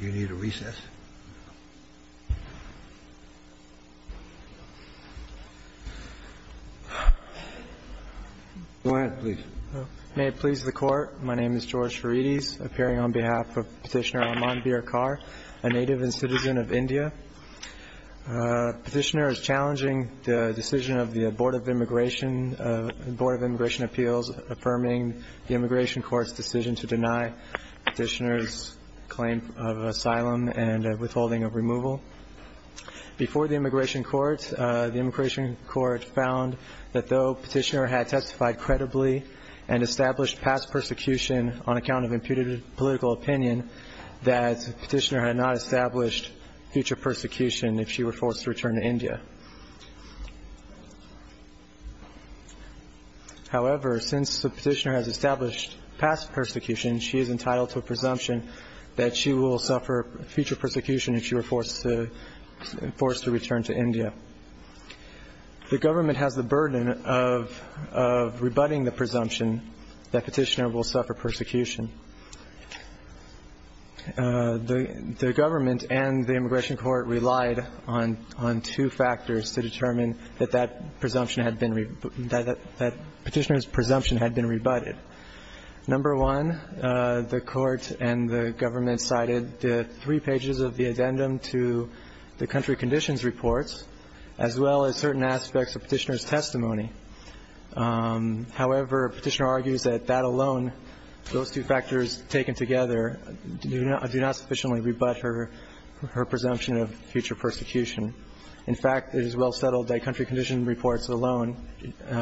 You need a recess? Go ahead, please. May it please the Court. My name is George Ferides, appearing on behalf of Petitioner Aman Birakar, a native and citizen of India. Petitioner is challenging the decision of the Board of Immigration, the Board of Immigration Appeals, affirming the Immigration Court's decision to deny Petitioner's claim of asylum and withholding of removal. Before the Immigration Court, the Immigration Court found that though Petitioner had testified credibly and established past persecution on account of imputed political opinion, that Petitioner had not established future persecution if she were forced to return to India. However, since Petitioner has established past persecution, she is entitled to a presumption that she will suffer future persecution if she were forced to return to India. The government has the burden of rebutting the presumption that Petitioner will suffer persecution. The government and the Immigration Court relied on two factors to determine that that presumption had been rebutted, that Petitioner's presumption had been rebutted. Number one, the Court and the government cited three pages of the addendum to the country conditions reports, as well as certain aspects of Petitioner's testimony. However, Petitioner argues that that alone, those two factors taken together, do not sufficiently rebut her presumption of future persecution. In fact, it is well settled that country condition reports alone,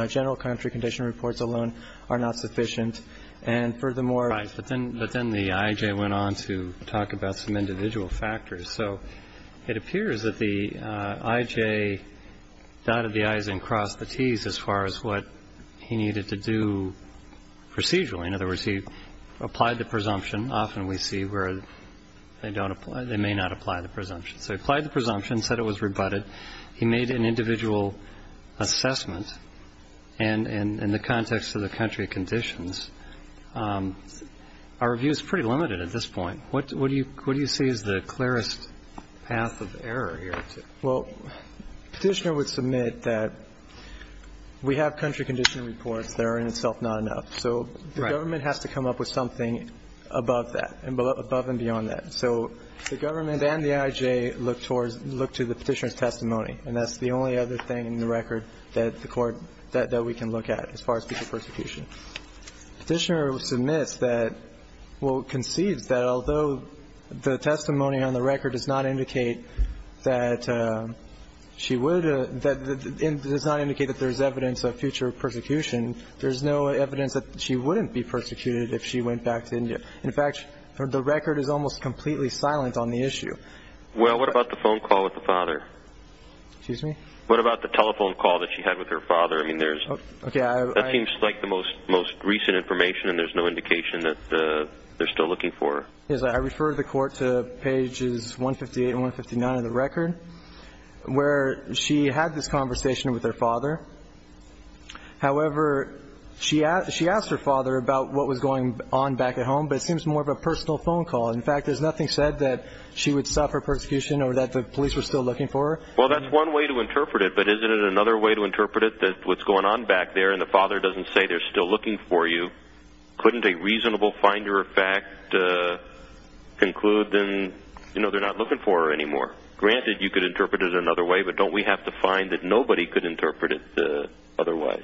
general country condition reports alone, are not sufficient. And furthermore ---- But then the IJ went on to talk about some individual factors. So it appears that the IJ dotted the I's and crossed the T's as far as what he needed to do procedurally. In other words, he applied the presumption. Often we see where they may not apply the presumption. So he applied the presumption, said it was rebutted. He made an individual assessment. And in the context of the country conditions, our view is pretty limited at this point. What do you say is the clearest path of error here? Well, Petitioner would submit that we have country condition reports that are in itself not enough. So the government has to come up with something above that, above and beyond that. So the government and the IJ look to the Petitioner's testimony. And that's the only other thing in the record that the Court ---- that we can look at as far as future persecution. Petitioner submits that ---- well, concedes that although the testimony on the record does not indicate that she would ---- does not indicate that there's evidence of future persecution, there's no evidence that she wouldn't be persecuted if she went back to India. In fact, the record is almost completely silent on the issue. Well, what about the phone call with the father? Excuse me? What about the telephone call that she had with her father? I mean, there's ---- Okay, I ---- That seems like the most recent information, and there's no indication that they're still looking for her. Yes, I refer the Court to pages 158 and 159 of the record, where she had this conversation with her father. However, she asked her father about what was going on back at home, but it seems more of a personal phone call. In fact, there's nothing said that she would suffer persecution or that the police were still looking for her. Well, that's one way to interpret it, but isn't it another way to interpret it that what's going on back there, and the father doesn't say they're still looking for you, couldn't a reasonable finder of fact conclude that they're not looking for her anymore? Granted, you could interpret it another way, but don't we have to find that nobody could interpret it otherwise?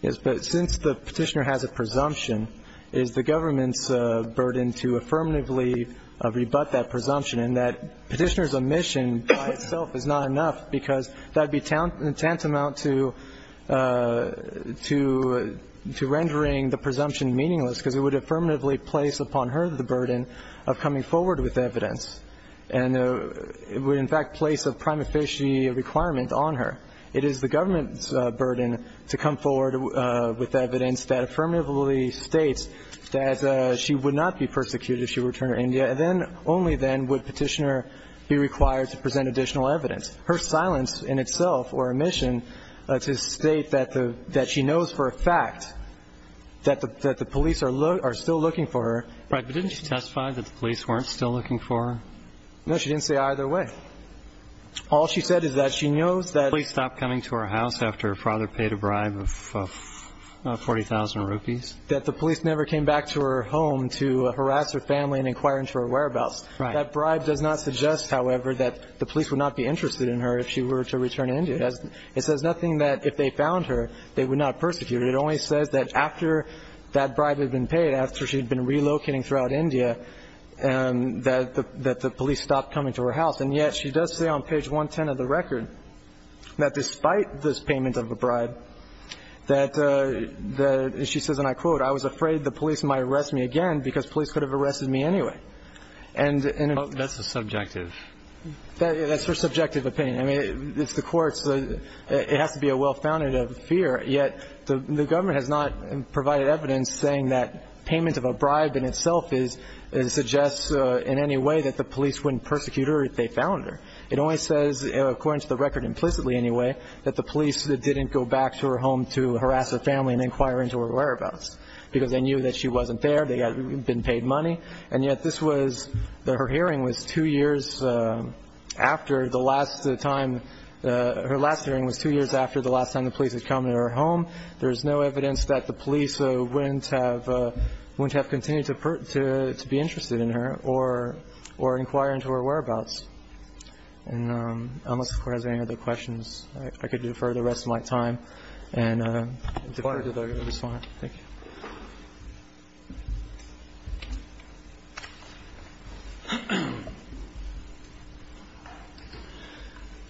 Yes, but since the petitioner has a presumption, it is the government's burden to affirmatively rebut that presumption, and that petitioner's omission by itself is not enough, because that would be tantamount to rendering the presumption meaningless, because it would affirmatively place upon her the burden of coming forward with evidence, and it would in fact place a prime officiate requirement on her. It is the government's burden to come forward with evidence that affirmatively states that she would not be persecuted if she were to return to India, and then only then would petitioner be required to present additional evidence. Her silence in itself, or omission, to state that she knows for a fact that the police are still looking for her. Right, but didn't she testify that the police weren't still looking for her? No, she didn't say either way. All she said is that she knows that... Police stopped coming to her house after her father paid a bribe of 40,000 rupees? That the police never came back to her home to harass her family and inquire into her whereabouts. Right. That bribe does not suggest, however, that the police would not be interested in her if she were to return to India. It says nothing that if they found her, they would not persecute her. It only says that after that bribe had been paid, after she had been relocating throughout India, that the police stopped coming to her house. And yet she does say on page 110 of the record that despite this payment of a bribe, that she says, and I quote, I was afraid the police might arrest me again because police could have arrested me anyway. And... That's a subjective... That's her subjective opinion. I mean, it's the court's, it has to be a well-founded fear, yet the government has not provided evidence saying that payment of a bribe in itself suggests in any way that the police wouldn't persecute her if they found her. It only says, according to the record implicitly anyway, that the police didn't go back to her home to harass her family and inquire into her whereabouts because they knew that she wasn't there, they had been paid money. And yet this was, her hearing was two years after the last time, her last hearing was two years after the last time the police had come to her home. There's no evidence that the police wouldn't have, wouldn't have continued to be interested in her or inquire into her whereabouts. And unless the Court has any other questions, I could defer the rest of my time and defer to the respondent. Thank you.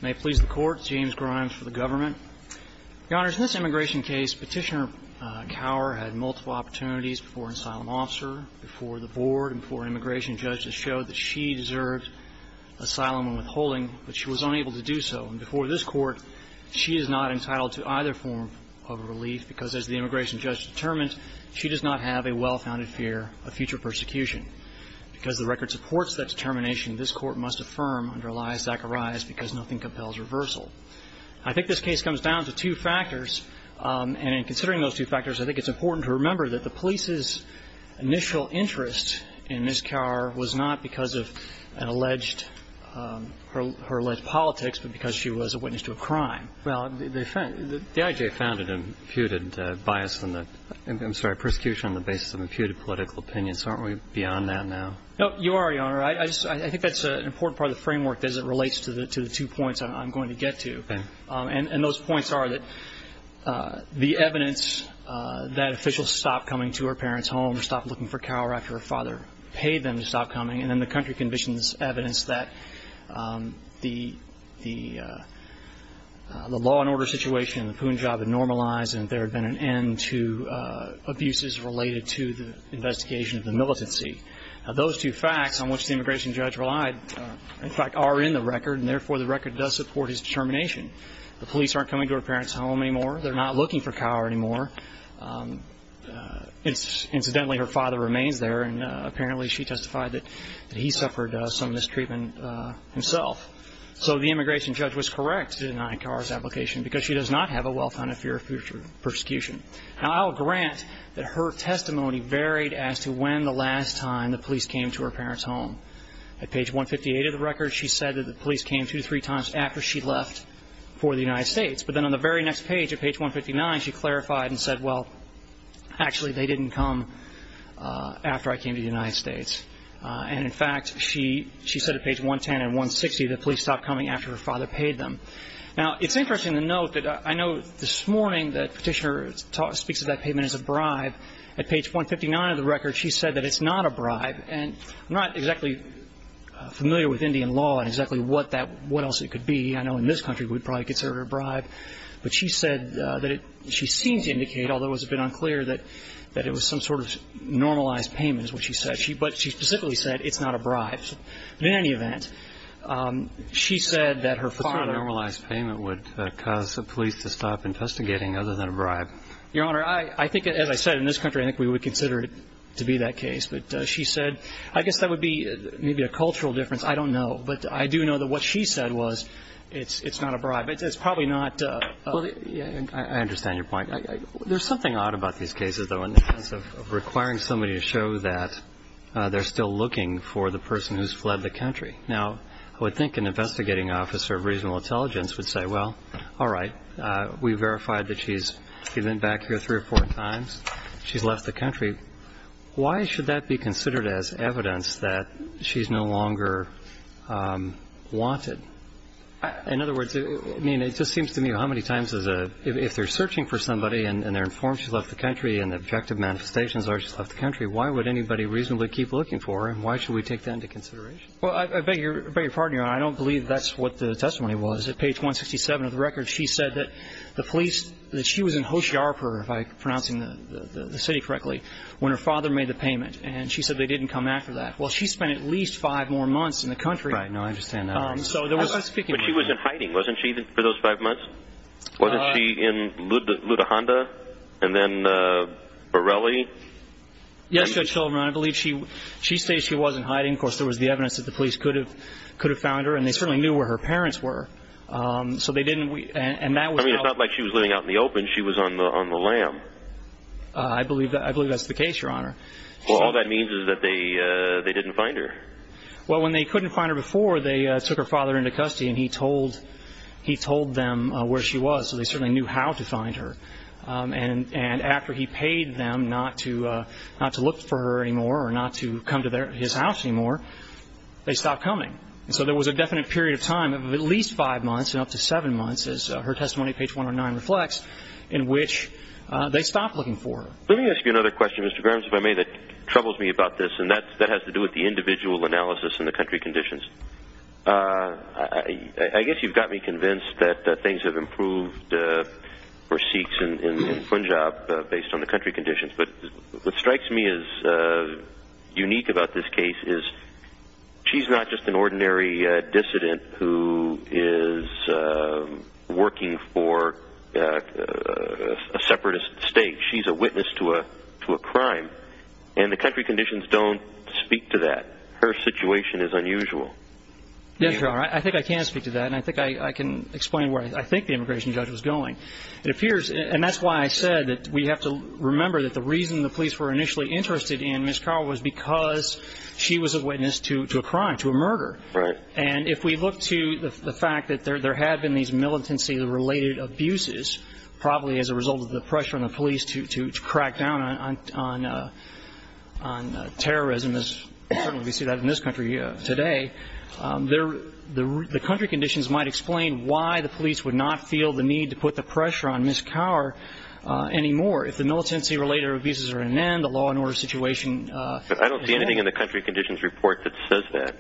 May it please the Court. James Grimes for the government. Your Honors, in this immigration case, Petitioner Cower had multiple opportunities before an asylum officer, before the Board, and before an immigration judge to show that she deserved asylum and withholding, but she was unable to do so. And before this Court, she is not entitled to either form of relief because as the immigration judge determined, she does not have a well-founded fear of future persecution. Because the record supports that determination, this Court must affirm under Elias Zacharias because nothing compels reversal. I think this case comes down to two factors, and in considering those two factors, I think it's important to remember that the police's initial interest in Ms. Cower was not because of an alleged, her alleged politics, but because she was a witness to a crime. Well, the I.J. found an imputed bias in the, I'm sorry, persecution on the basis of imputed political opinions. Aren't we beyond that now? No, you are, Your Honor. I just, I think that's an important part of the framework as it relates to the two points I'm going to get to. And those points are that the evidence that officials stopped coming to her parents' home, stopped looking for Cower after her father paid them to stop coming, and then the country conditions evidence that the law and order situation in the Punjab had normalized and there had been an end to abuses related to the investigation of the militancy. Now, those two facts on which the immigration judge relied, in fact, are in the record, and therefore the record does support his determination. The police aren't coming to her parents' home anymore. They're not looking for Cower anymore. Incidentally, her father remains there, and apparently she testified that he suffered some mistreatment himself. So the immigration judge was correct in denying Cower's application because she does not have a well-founded fear of future persecution. Now, I will grant that her testimony varied as to when the last time the police came to her parents' home. At page 158 of the record, she said that the police came two to three times after she left for the United States. But then on the very next page, at page 159, she clarified and said, well, actually they didn't come after I came to the United States. And in fact, she said at page 110 and 160 that police stopped coming after her father paid them. Now, it's interesting to note that I know this morning that Petitioner speaks of that payment as a bribe. At page 159 of the record, she said that it's not a bribe, and I'm not exactly familiar with Indian law and exactly what else it could be. I know in this country we would probably consider it a bribe. But she said that she seemed to indicate, although it was a bit unclear, that it was some sort of normalized payment, is what she said. But she specifically said it's not a bribe. But in any event, she said that her father – What sort of normalized payment would cause the police to stop investigating other than a bribe? Your Honor, I think, as I said, in this country I think we would consider it to be that case. But she said – I guess that would be maybe a cultural difference. I don't know. But I do know that what she said was it's not a bribe. It's probably not – Well, I understand your point. There's something odd about these cases, though, in the sense of requiring somebody to show that they're still looking for the person who's fled the country. Now, I would think an investigating officer of reasonable intelligence would say, well, all right, we verified that she's – she's been back here three or four times, she's left the country. Why should that be considered as evidence that she's no longer wanted? In other words, I mean, it just seems to me how many times is a – if they're searching for somebody and they're informed she's left the country and the objective manifestations are she's left the country, why would anybody reasonably keep looking for her, and why should we take that into consideration? Well, I beg your pardon, Your Honor. I don't believe that's what the testimony was. At page 167 of the record, she said that the police – that she was in Hohjarpur, if I'm pronouncing the city correctly, when her father made the payment, and she said they didn't come after that. Well, she spent at least five more months in the country. Right. No, I understand that. So there was – But she was in hiding, wasn't she, for those five months? Wasn't she in Luthahanda and then Borelli? Yes, Judge Sullivan, I believe she – she stated she was in hiding. Of course, there was the evidence that the police could have – could have found her, and they certainly knew where her parents were. So they didn't – and that was how – I believe – I believe that's the case, Your Honor. Well, all that means is that they – they didn't find her. Well, when they couldn't find her before, they took her father into custody, and he told – he told them where she was, so they certainly knew how to find her. And after he paid them not to – not to look for her anymore or not to come to their – his house anymore, they stopped coming. So there was a definite period of time of at least five months and up to seven months, as her testimony at page 109 reflects, in which they stopped looking for her. Let me ask you another question, Mr. Grimes, if I may, that troubles me about this, and that – that has to do with the individual analysis and the country conditions. I guess you've got me convinced that things have improved for Sikhs in Punjab based on the country conditions. But what strikes me as unique about this case is she's not just an ordinary dissident who is working for a separatist state. She's a witness to a – to a crime. And the country conditions don't speak to that. Her situation is unusual. Yes, Your Honor, I think I can speak to that, and I think I can explain where I think the immigration judge was going. It appears – and that's why I said that we have to remember that the reason the police were initially interested in Ms. Karl was because she was a witness to a crime, to a murder. Right. And if we look to the fact that there had been these militancy-related abuses, probably as a result of the pressure on the police to crack down on terrorism, as certainly we see that in this country today, the country conditions might explain why the police would not feel the need to put the pressure on Ms. Karl anymore. If the militancy-related abuses are an end, the law and order situation is an end. But I don't see anything in the country conditions report that says that.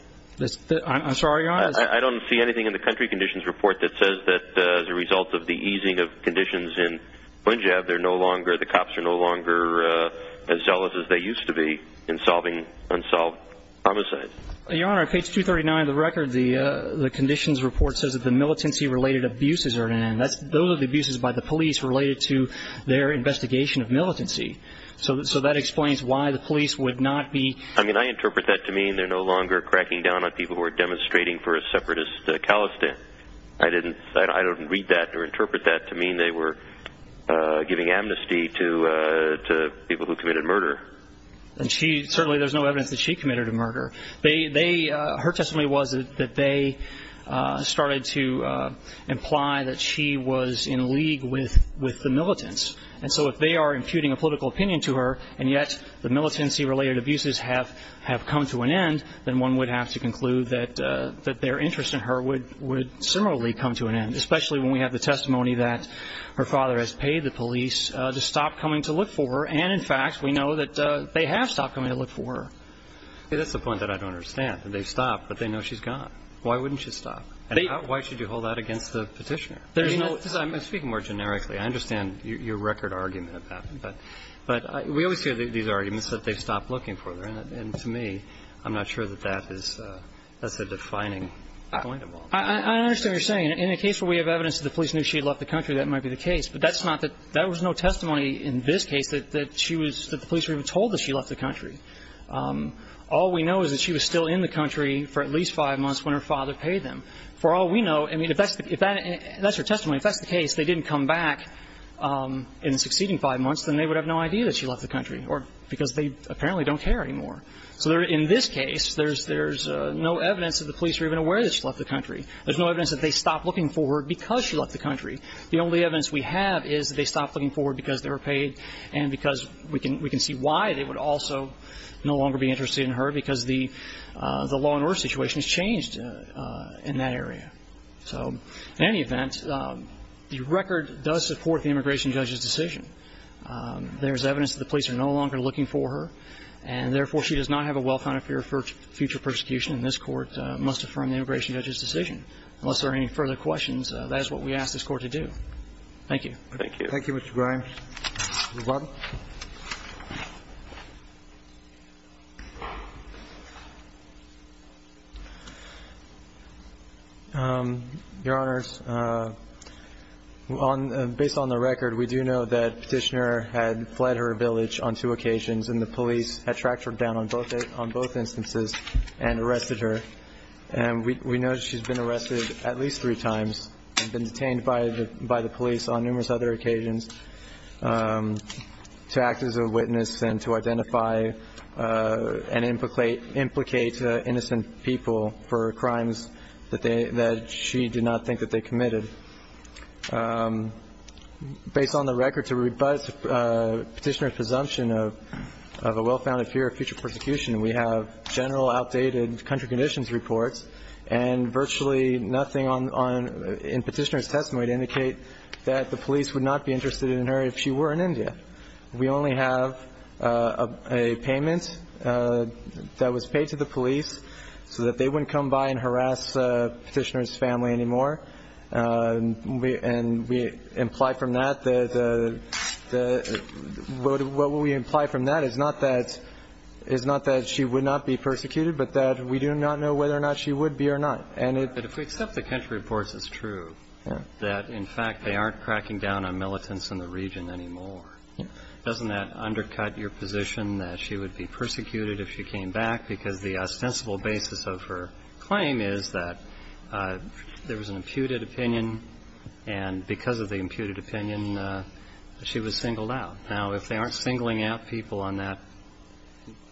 I'm sorry, Your Honor. I don't see anything in the country conditions report that says that as a result of the easing of conditions in Punjab, the cops are no longer as zealous as they used to be in solving unsolved homicides. Your Honor, page 239 of the record, the conditions report says that the militancy-related abuses are an end. Those are the abuses by the police related to their investigation of militancy. So that explains why the police would not be – I mean, I interpret that to mean they're no longer cracking down on people who are demonstrating for a separatist calisthenic. I didn't – I don't read that or interpret that to mean they were giving amnesty to people who committed murder. And she – certainly there's no evidence that she committed a murder. Her testimony was that they started to imply that she was in league with the militants. And so if they are imputing a political opinion to her, and yet the militancy-related abuses have come to an end, then one would have to conclude that their interest in her would similarly come to an end, especially when we have the testimony that her father has paid the police to stop coming to look for her, and in fact, we know that they have stopped coming to look for her. That's the point that I don't understand, that they've stopped, but they know she's gone. Why wouldn't she stop? Why should you hold that against the Petitioner? There's no – I'm speaking more generically. I understand your record argument about that. But we always hear these arguments that they've stopped looking for her. And to me, I'm not sure that that is – that's a defining point of all. I understand what you're saying. In the case where we have evidence that the police knew she had left the country, that might be the case. But that's not the – there was no testimony in this case that she was – that the police were even told that she left the country. All we know is that she was still in the country for at least five months when her father paid them. For all we know – I mean, if that's the – if that's her testimony, if that's the case, they didn't come back in the succeeding five months, then they would have no idea that she left the country, or – because they apparently don't care anymore. So there – in this case, there's no evidence that the police were even aware that she left the country. There's no evidence that they stopped looking for her because she left the country. The only evidence we have is that they stopped looking for her because they were paid and because we can see why they would also no longer be interested in her, because the law and order situation has changed in that area. So in any event, the record does support the immigration judge's decision. There's evidence that the police are no longer looking for her, and therefore, she does not have a well-founded fear of future persecution, and this Court must affirm the immigration judge's decision. Unless there are any further questions, that is what we ask this Court to do. Thank you. Thank you. Thank you, Mr. Grimes. Mr. Varl? Your Honors, on – based on the record, we do know that Petitioner had fled her village on two occasions, and the police had tracked her down on both instances and arrested her. And we know she's been arrested at least three times and been detained by the police on numerous other occasions to act as a witness and to identify and implicate innocent people for crimes that they – that she did not think that they committed. Based on the record, to rebut Petitioner's presumption of a well-founded fear of future persecution, we have general outdated country conditions reports and virtually nothing on – in Petitioner's testimony to indicate that the police would not be interested in her if she were in India. We only have a payment that was paid to the police so that they wouldn't come by and harass Petitioner's family anymore. And we imply from that that the – what we imply from that is not that – is not that she would not be persecuted, but that we do not know whether or not she would be or not. And if we accept the country reports, it's true that, in fact, they aren't cracking down on militants in the region anymore. Doesn't that undercut your position that she would be persecuted if she came back? Because the ostensible basis of her claim is that there was an imputed opinion, and because of the imputed opinion, she was singled out. Now, if they aren't singling out people on that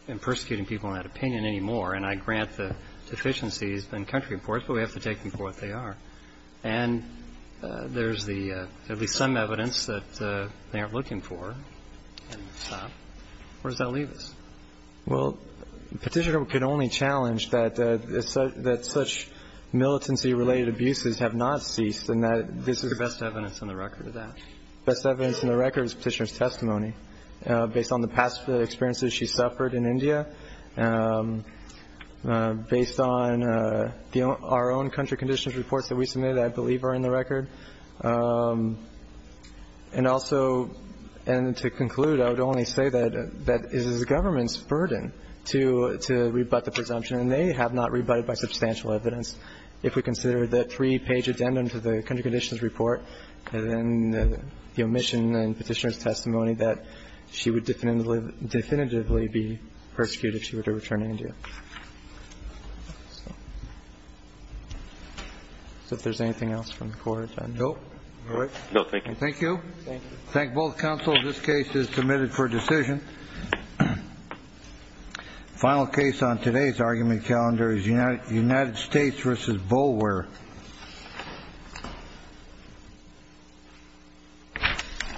and persecuting people on that opinion anymore – and I grant the deficiencies in country reports, but we have to take them for what they are – and there's the – at least some evidence that they aren't looking for, where does that leave us? Well, Petitioner could only challenge that such militancy-related abuses have not ceased and that this is the best evidence on the record of that. Based on the past experiences she suffered in India, based on our own country conditions reports that we submitted, I believe are in the record. And also – and to conclude, I would only say that that is the government's burden to rebut the presumption, and they have not rebutted by substantial evidence. If we consider the three-page addendum to the country conditions report and the omission and Petitioner's testimony, that she would definitively be persecuted if she were to return to India. So, if there's anything else from the Court of Attorney? No. All right. No. Thank you. Thank you. Thank you. Thank both counsel. This case is submitted for decision. Final case on today's argument calendar is United States v. Boulware. Thank you.